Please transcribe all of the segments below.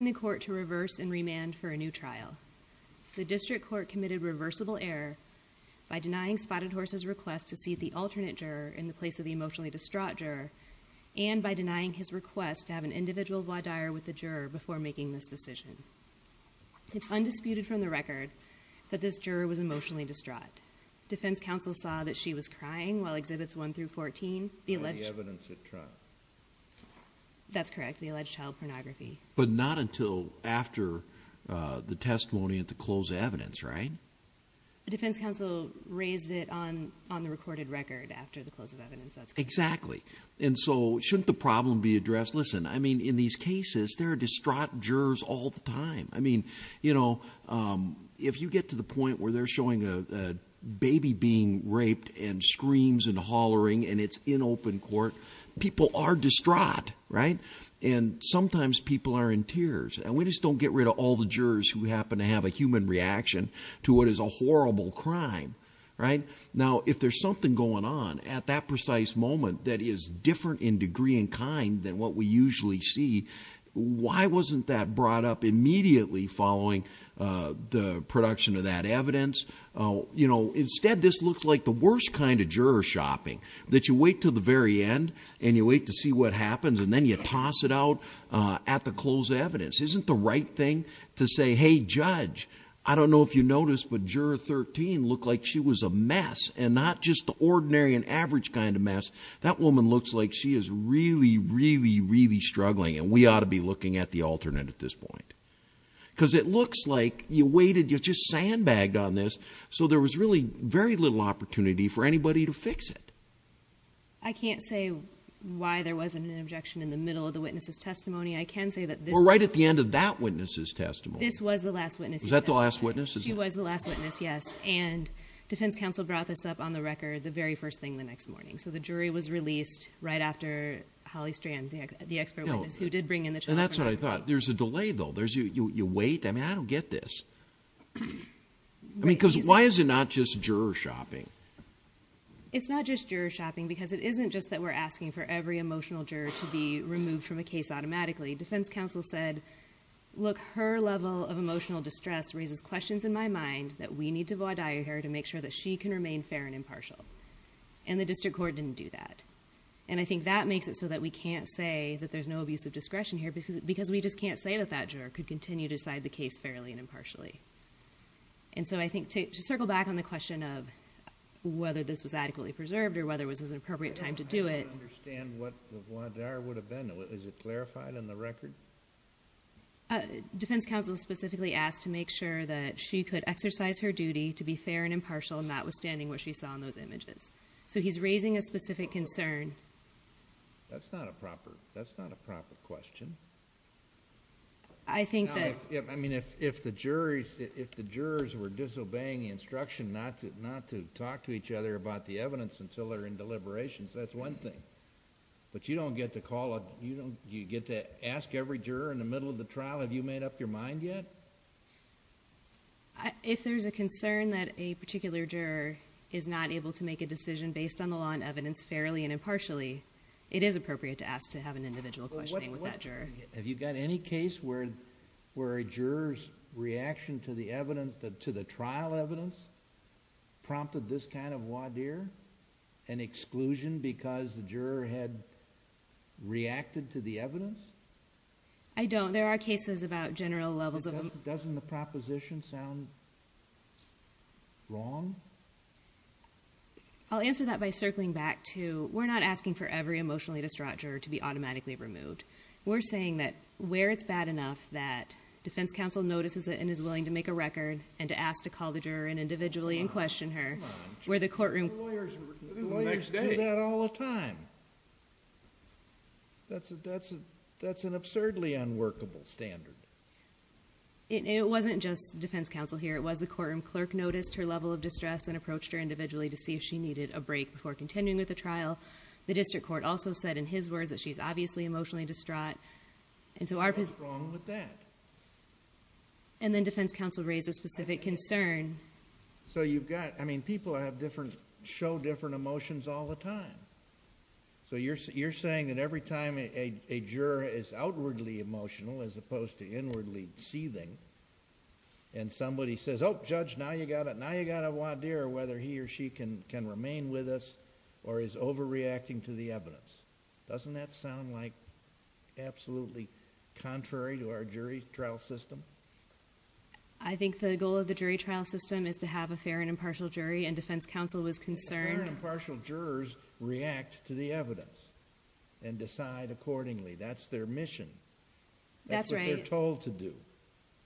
the court to reverse and remand for a new trial. The district court committed reversible error by denying Spotted Horse's request to seat the alternate juror in the place of the emotionally distraught juror and by denying his request to have an individual voir dire with the juror before making this decision. It's undisputed from the record that this juror was emotionally distraught. Defense counsel saw that she was crying while exhibits 1 through 14 That's correct the alleged child pornography. But not until after the testimony at the close evidence right? The defense counsel raised it on on the recorded record after the close of evidence. Exactly and so shouldn't the problem be addressed? Listen I mean in these cases there are distraught jurors all the time. I mean you know if you get to the point where they're showing a baby being raped and screams and hollering and it's in open court people are distraught right? And sometimes people are in tears and we just don't get rid of all the jurors who happen to have a human reaction to what is a horrible crime right? Now if there's something going on at that precise moment that is different in degree and kind than what we usually see why wasn't that brought up immediately following the production of that evidence? You know instead this looks like the worst kind of juror shopping that you wait to the very end and you wait to see what happens and then you toss it out at the close evidence. Isn't the right thing to say hey judge I don't know if you noticed but juror 13 looked like she was a mess and not just the ordinary and average kind of mess. That woman looks like she is really really really struggling and we ought to be looking at the alternate at this point. Because it very little opportunity for anybody to fix it. I can't say why there wasn't an objection in the middle of the witnesses testimony. I can say that this. We're right at the end of that witnesses testimony. This was the last witness. Was that the last witness? She was the last witness yes and defense counsel brought this up on the record the very first thing the next morning. So the jury was released right after Holly Strand the expert witness who did bring in the child. And that's what I thought there's a delay though there's you you wait I mean I don't get this. I don't get this. Why is it not just juror shopping? It's not just juror shopping because it isn't just that we're asking for every emotional juror to be removed from a case automatically. Defense counsel said look her level of emotional distress raises questions in my mind that we need to vaudeville her to make sure that she can remain fair and impartial. And the district court didn't do that. And I think that makes it so that we can't say that there's no abuse of discretion here because because we just can't say that that juror could continue to decide the case fairly and impartially. And so I think to circle back on the question of whether this was adequately preserved or whether it was an appropriate time to do it. I don't understand what the voir dire would have been. Is it clarified in the record? Defense counsel specifically asked to make sure that she could exercise her duty to be fair and impartial notwithstanding what she saw in those images. So he's raising a specific concern. That's not a proper question. I think that I mean if if the jurors if the jurors were disobeying instruction not to not to talk to each other about the evidence until they're in deliberations that's one thing. But you don't get to call it you know you get to ask every juror in the middle of the trial have you made up your mind yet? If there's a concern that a particular juror is not able to make a decision based on the law and evidence fairly and impartially it is appropriate to ask to have an individual question with that juror. Have you got any case where where a jurors reaction to the evidence that to the trial evidence prompted this kind of voir dire? An exclusion because the juror had reacted to the evidence? I don't. There are cases about general levels of... Doesn't the proposition sound wrong? I'll answer that by circling back to we're not asking for every emotionally distraught juror to be automatically removed. We're saying that where it's bad enough that defense counsel notices it and is willing to make a record and to ask to call the juror and individually and question her where the courtroom... Lawyers do that all the time. That's an absurdly unworkable standard. It wasn't just defense counsel here it was the courtroom clerk noticed her level of distress and approached her individually to see if she needed a break before continuing with the trial. The district court also said in his words that she's obviously emotionally distraught and so our... What's wrong with that? And then defense counsel raised a specific concern. So you've got, I mean people have different, show different emotions all the time. So you're saying that every time a juror is outwardly emotional as opposed to inwardly seething and somebody says, oh judge now you got a voir dire whether he or she can remain with us or is overreacting to the evidence. Doesn't that sound like absolutely contrary to our jury trial system? I think the goal of the jury trial system is to have a fair and impartial jury and defense counsel was concerned... Fair and impartial jurors react to the evidence and decide accordingly. That's their mission. That's what they're told to do.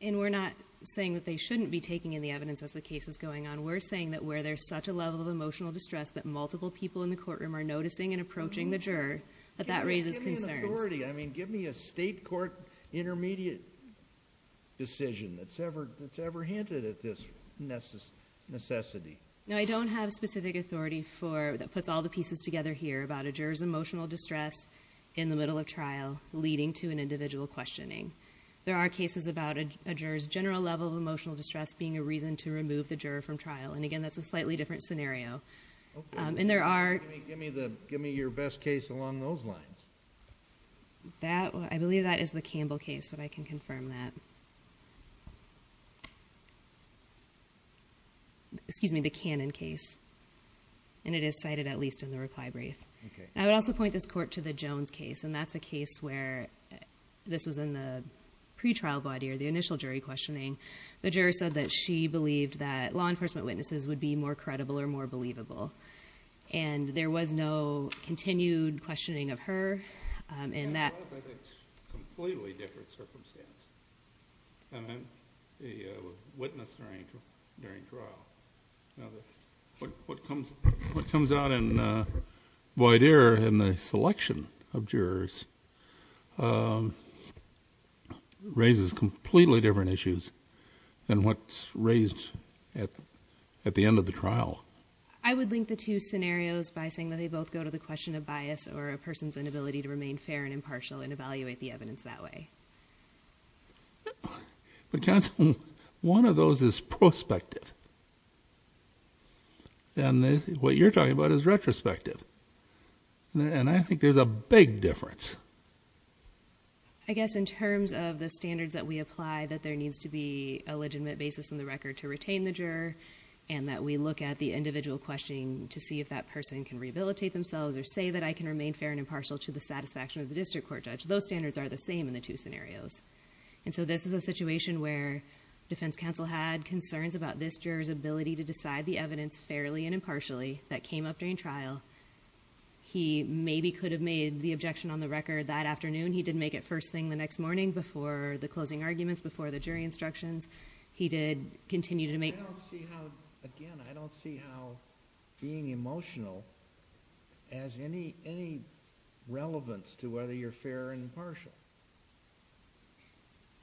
And we're not saying that they shouldn't be taking in the evidence as the case is going on. We're saying that where there's such a level of emotional distress that multiple people in the courtroom are noticing and approaching the juror, that that raises concerns. Give me an authority. I mean give me a state court intermediate decision that's ever hinted at this necessity. No I don't have specific authority for, that puts all the pieces together here about a juror's emotional distress in the middle of trial leading to an individual questioning. There are cases about a juror's general level of distress being a reason to remove the juror from trial. And again that's a slightly different scenario. And there are... Give me your best case along those lines. That, I believe that is the Campbell case, but I can confirm that. Excuse me, the Cannon case. And it is cited at least in the reply brief. I would also point this court to the Jones case. And that's a case where this was in the pre-trial body or the initial jury questioning. The juror said that she believed that law enforcement witnesses would be more credible or more believable. And there was no continued questioning of her in that... It's a completely different circumstance. A witness during trial. Now, what comes out in void air in the selection of jurors raises completely different issues than what's raised at the end of the trial. I would link the two scenarios by saying that they both go to the question of bias or a person's inability to remain fair and impartial and evaluate the evidence that way. But counsel, one of those is prospective. And what you're talking about is retrospective. And I think there's a big difference. I guess in terms of the standards that we apply that there needs to be a legitimate basis in the record to retain the juror and that we look at the individual questioning to see if that person can rehabilitate themselves or say that I can remain fair and impartial to the satisfaction of the district court judge. Those standards are the same in the two scenarios. And so this is a situation where defense counsel had concerns about this juror's ability to decide the evidence fairly and impartially that came up during trial. He maybe could have made the objection on the record that afternoon. He didn't make it first thing the next morning before the closing arguments, before the jury instructions. He did continue to make... I don't see how, again, I don't see how being emotional has any relevance to whether you're fair and impartial.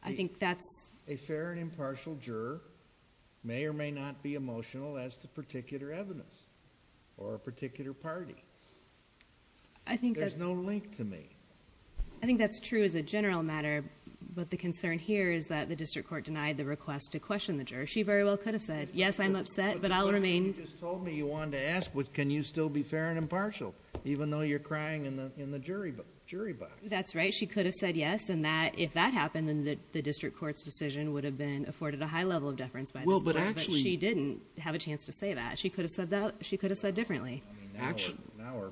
I think that's... A fair and impartial juror may or may not be emotional as to particular evidence or a particular party. I think that... There's no link to me. I think that's true as a general matter. But the concern here is that the district court denied the request to question the juror. She very well could have said, yes, I'm upset, but I'll remain... But you just told me you wanted to ask, can you still be fair and impartial even though you're crying in the jury box? That's right. She could have said yes, and if that happened, then the district court's decision would have been afforded a high level of deference by this court. Well, but actually... But she didn't have a chance to say that. She could have said that... she could have said differently. I mean, now we're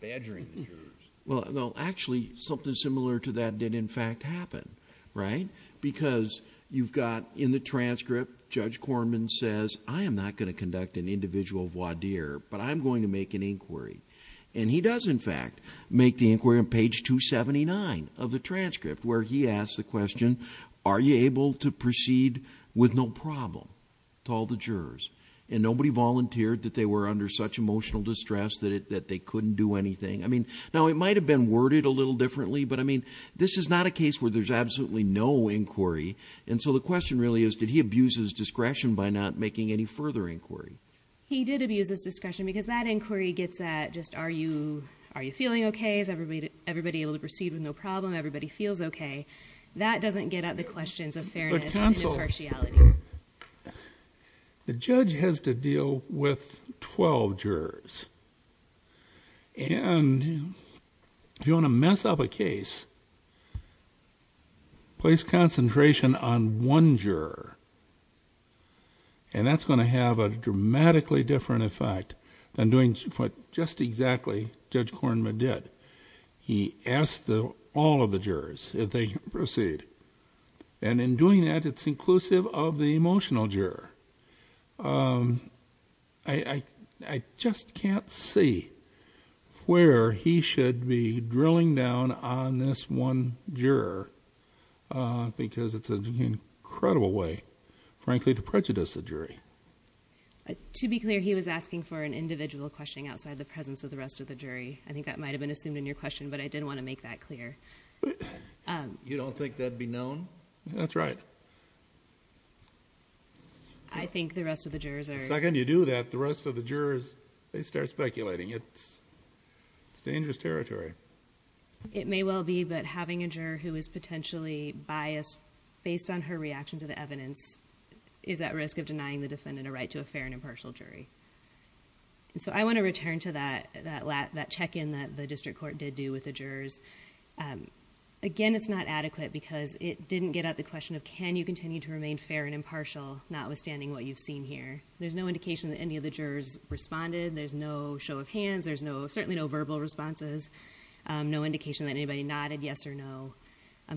badgering the jurors. Well, actually, something similar to that did in fact happen, right? Because you've got in the transcript, Judge Korman says, I am not going to conduct an individual voir dire, but I'm going to make an inquiry. And he does, in fact, make the inquiry on page 279 of the transcript where he asks the question, are you able to proceed with no problem to all the jurors? And nobody volunteered that they were under such emotional distress that they couldn't do anything. I mean, now it might have been worded a little differently, but I mean, this is not a case where there's absolutely no inquiry. And so the question really is, did he abuse his discretion by not making any further inquiry? He did abuse his discretion because that inquiry gets at just are you feeling okay? Is everybody able to proceed with no problem? Everybody feels okay? That doesn't get at the questions of fairness and impartiality. The judge has to deal with twelve jurors. And if you want to mess up a case, place concentration on one juror. And that's going to have a dramatically different effect than doing what just exactly Judge Korman did. He asked all the jurors if they could proceed. And in doing that, it's inclusive of the emotional juror. I just can't see where he should be drilling down on this one juror because it's an incredible way, frankly, to prejudice the jury. To be clear, he was asking for an individual questioning outside the presence of the rest of the jury. I think that might have been assumed in your case, but it's not that clear. You don't think that would be known? That's right. I think the rest of the jurors are... The second you do that, the rest of the jurors, they start speculating. It's dangerous territory. It may well be, but having a juror who is potentially biased based on her reaction to the evidence is at risk of denying the defendant a right to a fair and impartial jury. And so I want to return to that check-in that the District Court did do with the jurors. Again, it's not adequate because it didn't get at the question of can you continue to remain fair and impartial, notwithstanding what you've seen here. There's no indication that any of the jurors responded. There's no show of hands. There's certainly no verbal responses. No indication that anybody nodded yes or no.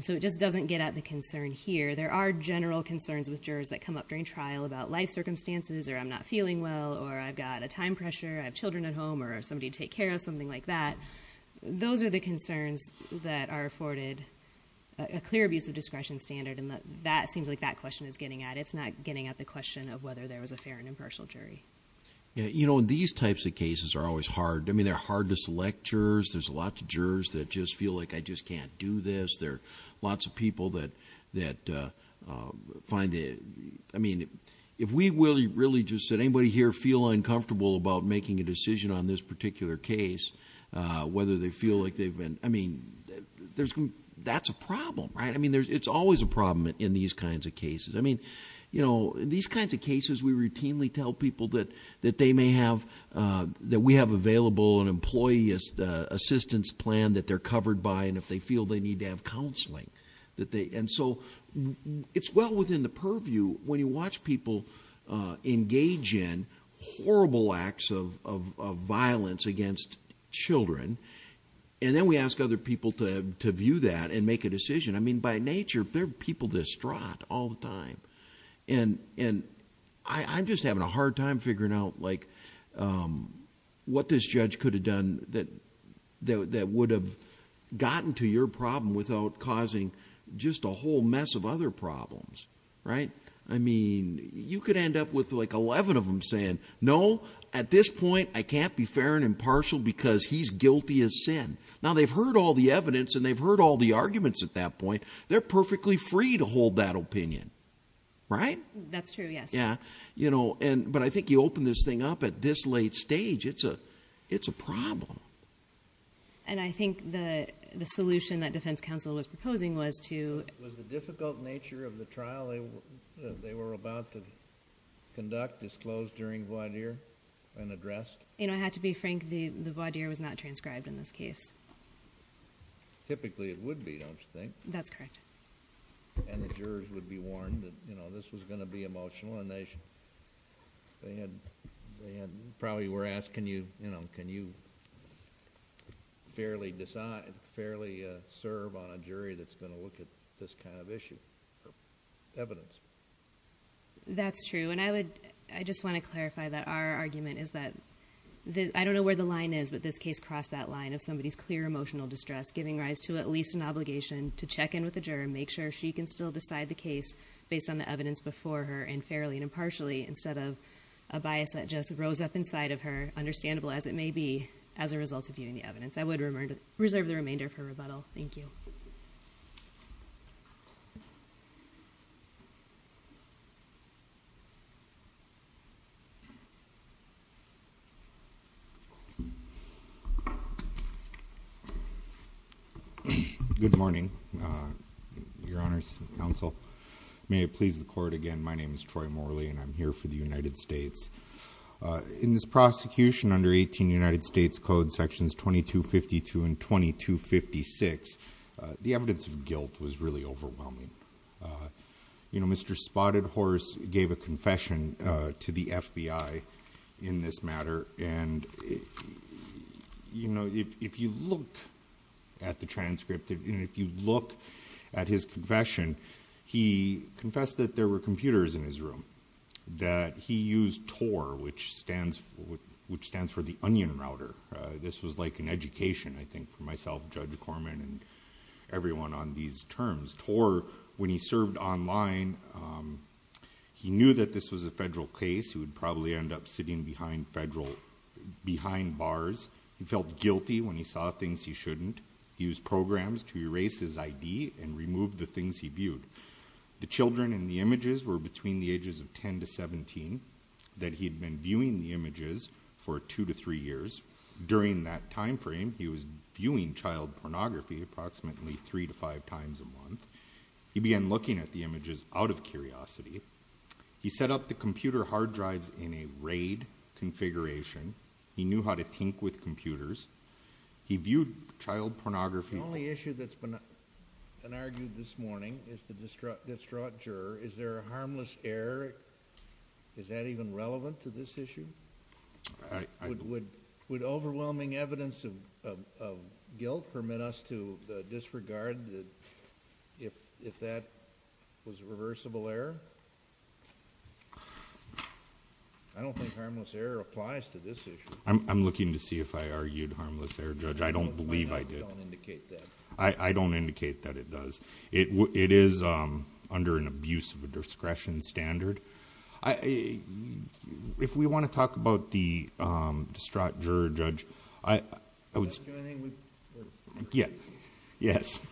So it just doesn't get at the concern here. There are general concerns with jurors that come up during trial about life circumstances, or I'm not feeling well, or I've got a time pressure, I have children at home, or somebody to take care of, something like that. Those are the concerns that are afforded a clear abuse of discretion standard. And that seems like that question is getting at. It's not getting at the question of whether there was a fair and impartial jury. You know, these types of cases are always hard. I mean, they're hard to select jurors. There's a lot of jurors that just feel like I just can't do this. There are lots of people that find it... I mean, if we really just said anybody here feel uncomfortable about making a decision on this particular case, whether they feel like they've been... I mean, that's a problem, right? I mean, it's always a problem in these kinds of cases. I mean, you know, in these kinds of cases, we routinely tell people that they may have... that we have available an employee assistance plan that they're covered by, and if they feel they need to have counseling. And so, it's well within the purview when you watch people engage in horrible acts of violence against children, and then we ask other people to view that and make a decision. I mean, by nature, they're people distraught all the time. And I'm just having a hard time figuring out like what this judge could have done that would have gotten to your problem without causing just a whole mess of other problems, right? I mean, you could end up with like 11 of them saying, no, at this point, I can't be fair and impartial because he's guilty of sin. Now, they've heard all the evidence and they've heard all the arguments at that point. They're perfectly free to hold that opinion, right? That's true, yes. Yeah, you know, but I think you open this thing up at this late stage, it's a problem. And I think the solution that defense counsel was proposing was to... Was the difficult nature of the trial they were about to conduct disclosed during voir dire and addressed? You know, I have to be frank, the voir dire was not transcribed in this case. Typically, it would be, don't you think? That's correct. And the jurors would be warned that, you know, this was going to be emotional inaction. They probably were asked, can you fairly serve on a jury that's going to look at this kind of issue or evidence? That's true. And I just want to clarify that our argument is that, I don't know where the line is, but this case crossed that line of somebody's clear emotional distress, giving rise to at least an obligation to check in with the juror and make sure she can still decide the case based on the evidence before her, and fairly and impartially, instead of a bias that just rose up inside of her, understandable as it may be, as a result of viewing the evidence. I would reserve the remainder of her rebuttal. Thank you. Good morning, Your Honors Counsel. May it please the Court again, my name is Troy Morley, and I'm here for the United States. In this prosecution under 18 United States Code Sections 2252 and 2256, the evidence of guilt was really overwhelming. You know, Mr. Spotted Horse gave a confession to the FBI in this matter, and you know, if you look at the transcript, and if you look at his confession, he confessed that there were computers in his room, that he used TOR, which stands for the Onion Router. This was like an education, I think, for myself, Judge Corman, and everyone on these terms. TOR, when he served online, he knew that this was a federal case. He would probably end up sitting behind bars. He felt guilty when he saw things he shouldn't. He used programs to erase his memory, and he knew that he was being viewed. The children in the images were between the ages of 10 to 17, that he had been viewing the images for two to three years. During that time frame, he was viewing child pornography approximately three to five times a month. He began looking at the images out of curiosity. He set up the computer hard drives in a RAID configuration. He knew how to tink with computers. He viewed child pornography. The only issue that's been argued this morning is the distraught juror. Is there a harmless error? Is that even relevant to this issue? Would overwhelming evidence of guilt permit us to disregard if that was a reversible error? I don't think harmless error applies to this issue. I'm looking to see if I argued harmless error, Judge. I don't believe I did. My notes don't indicate that. I don't indicate that it does. It is under an abuse of a discretion standard. If we want to talk about the distraught juror, Judge... Do I have to do anything? Yes.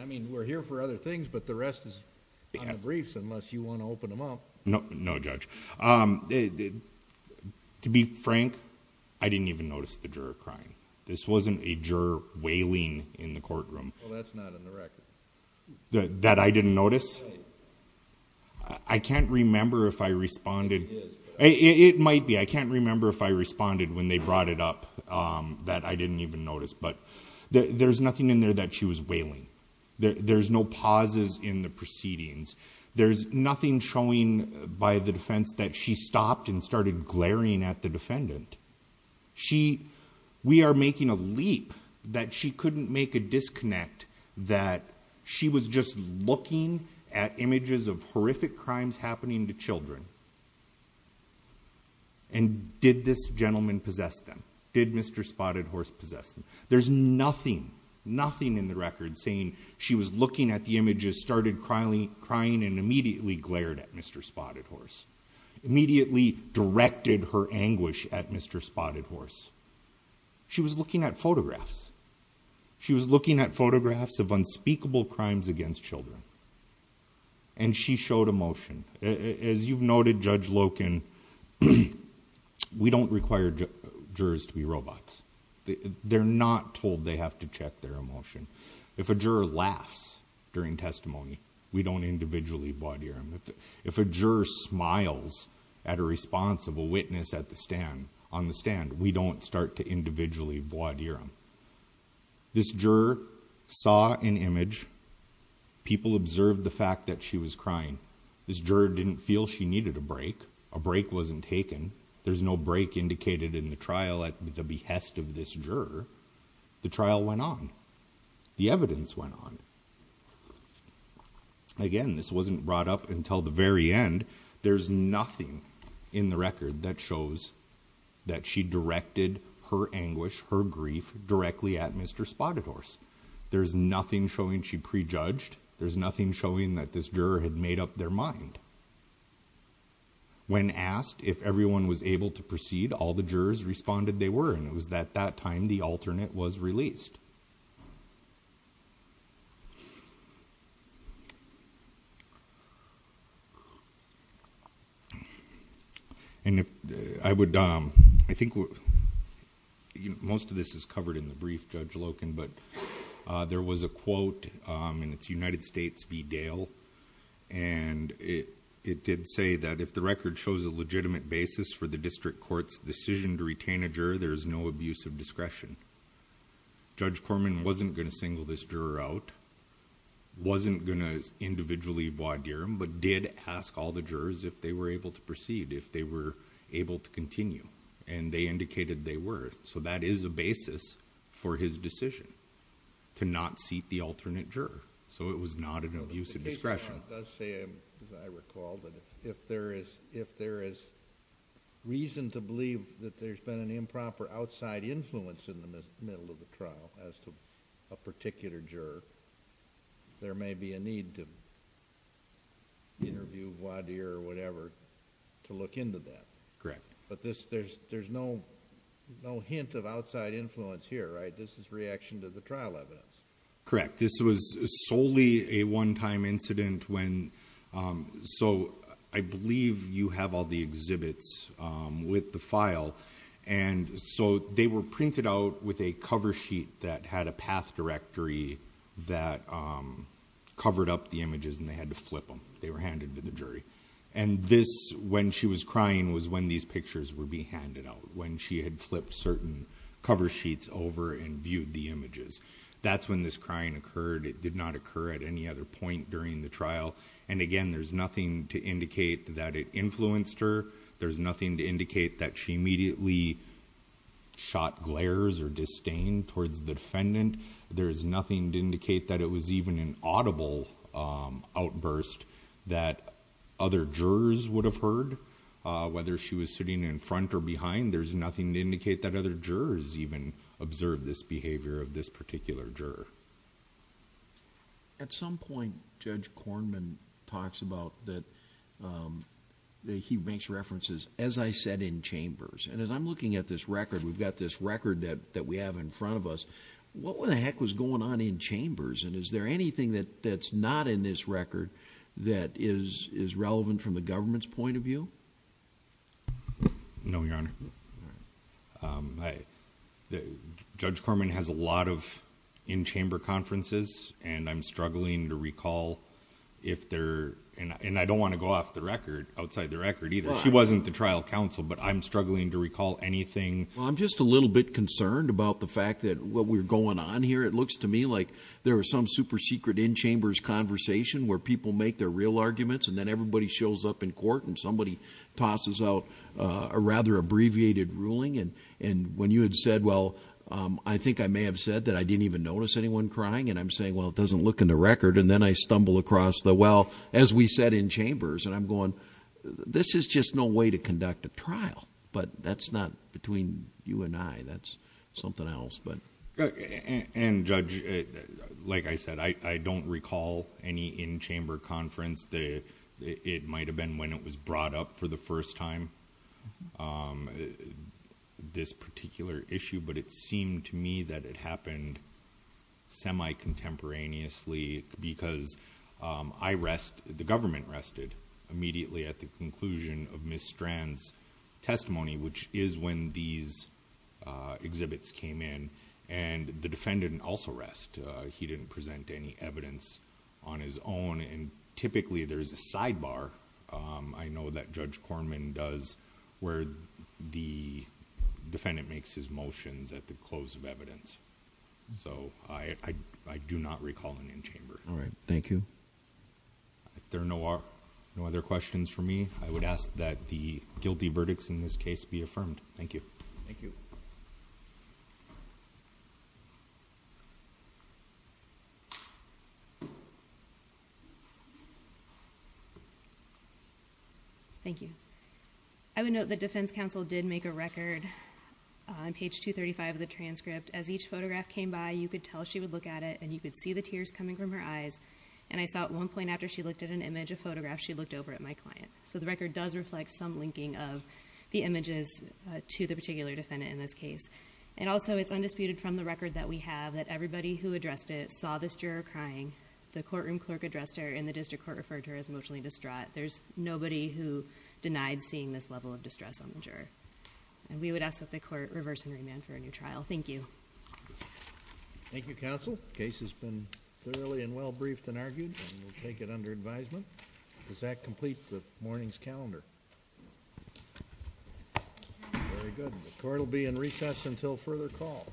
I mean, we're here for other things, but the rest is on the briefs unless you want to open them up. No, Judge. To be frank, I didn't even notice the juror crying. This wasn't a juror wailing in the courtroom. Well, that's not on the record. That I didn't notice? I can't remember if I responded... It is, but... It might be. I can't remember if I responded when they brought it up that I didn't even notice, but there's nothing in there that she was wailing. There's no pauses in the proceedings. There's nothing showing by the defense that she stopped and started glaring at the defendant. We are making a leap that she couldn't make a disconnect that she was just looking at images of horrific crimes happening to children. Did this gentleman possess them? Did Mr. Spotted Horse possess them? There's nothing, nothing in the record saying she was looking at the images, started crying, and immediately glared at Mr. Spotted Horse, immediately directed her anguish at Mr. Spotted Horse. She was looking at photographs. She was looking at photographs of unspeakable crimes against children, and she showed emotion. As you've noted, Judge Loken, we don't require jurors to be robots. They're not told they have to check their emotion. If a juror laughs during testimony, we don't individually voir dire. If a juror smiles at a response of a witness at the stand, on the stand, we don't start to individually voir dire them. This juror saw an image. People observed the fact that she was crying. This juror didn't feel she needed a break. A break wasn't taken. There's no break indicated in the trial at the behest of this juror. The trial went on. The evidence went on. Again, this wasn't brought up until the very end. There's nothing in the record that shows that she directed her anguish, her grief directly at Mr. Spotted Horse. There's nothing showing she prejudged. There's nothing showing that this juror had made up their mind. When asked if everyone was able to proceed, all the jurors responded they were. And it was at that time the alternate was released. And if I would, I think most of this is covered in the brief, Judge Loken, but there was a quote, and it's United States v. Dale. And it did say that if the record shows a legitimate basis for the district court's decision to retain a juror, there's no abuse of discretion. Judge Corman wasn't going to single this juror out, wasn't going to individually voir dire them, but did ask all the jurors if they were able to proceed, if they were able to continue. And they indicated they were. So that is a basis for his decision to not seat the alternate juror. So it was not an abuse of discretion. But it does say, as I recall, that if there is reason to believe that there's been an improper outside influence in the middle of the trial as to a particular juror, there may be a need to interview voir dire or whatever to look into that. Correct. But there's no hint of outside influence here, right? This is reaction to the trial evidence. Correct. This was solely a one-time incident. So I believe you have all the exhibits with the file. And so they were printed out with a cover sheet that had a path directory that covered up the images, and they had to flip them. They were handed to the jury. And this, when she was crying, was when these pictures were being handed out, when she had flipped certain cover sheets over and viewed the images. That's when this crying occurred. It did not occur at any other point during the trial. And again, there's nothing to indicate that it influenced her. There's nothing to indicate that she immediately shot glares or disdain towards the defendant. There's nothing to indicate that it was even an audible outburst that other jurors would have heard, whether she was sitting in front or behind. There's nothing to indicate that other jurors even observed this behavior of this particular jury. Judge Somers At some point Judge Kornman talks about that he makes references, as I said, in chambers. And as I'm looking at this record, we've got this record that we have in front of us. What the heck was going on in chambers? And is there anything that's not in this record that is relevant from the government's point of view? Judge Yards No, Your Honor. Judge Kornman has a lot of in-chamber conferences, and I'm struggling to recall if there, and I don't want to go off the record, outside the record either. She wasn't the trial counsel, but I'm struggling to recall anything. Judge Somers Well, I'm just a little bit concerned about the fact that what we're going on here. It looks to me like there are some super secret in-chambers conversation where people make their real arguments, and then everybody shows up in court, and somebody tosses out a rather abbreviated ruling. And when you had said, well, I think I may have said that I didn't even notice anyone crying, and I'm saying, well, it doesn't look in the record, and then I stumble across the, well, as we said, in chambers, and I'm going, this is just no way to conduct a trial. But that's not between you and I. That's something else. Judge Kornman And, Judge, like I said, I don't recall any in-chamber conference. It might have been when it was brought up for the first time, this particular issue, but it seemed to me that it happened semi-contemporaneously because I rest, the government rested immediately at the conclusion of Ms. Strand's testimony, which is when these exhibits came in. And the defendant also rest. He didn't present any evidence on his own. And typically, there's a sidebar, I know that Judge Kornman does, where the defendant makes his motions at the close of evidence. So, I do not recall an in-chamber. All right. Thank you. There are no other questions for me. I would ask that the guilty verdicts in this case be affirmed. Thank you. Thank you. I would note that defense counsel did make a record on page 235 of the transcript. As each photograph came by, you could tell she would look at it, and you could see the tears coming from her eyes. And I saw at one point after she looked at an image, a photograph, she looked over at my client. So, the record does reflect some linking of the images to the particular defendant in this case. And also, it's undisputed from the record that we have that everybody who addressed it The courtroom clerk addressed her, and the defense counsel addressed her. The district court referred to her as emotionally distraught. There's nobody who denied seeing this level of distress on the juror. And we would ask that the court reverse and remand for a new trial. Thank you. Thank you, counsel. The case has been clearly and well briefed and argued, and we'll take it under advisement. Does that complete the morning's calendar? Very good. The court will be in recess until further call.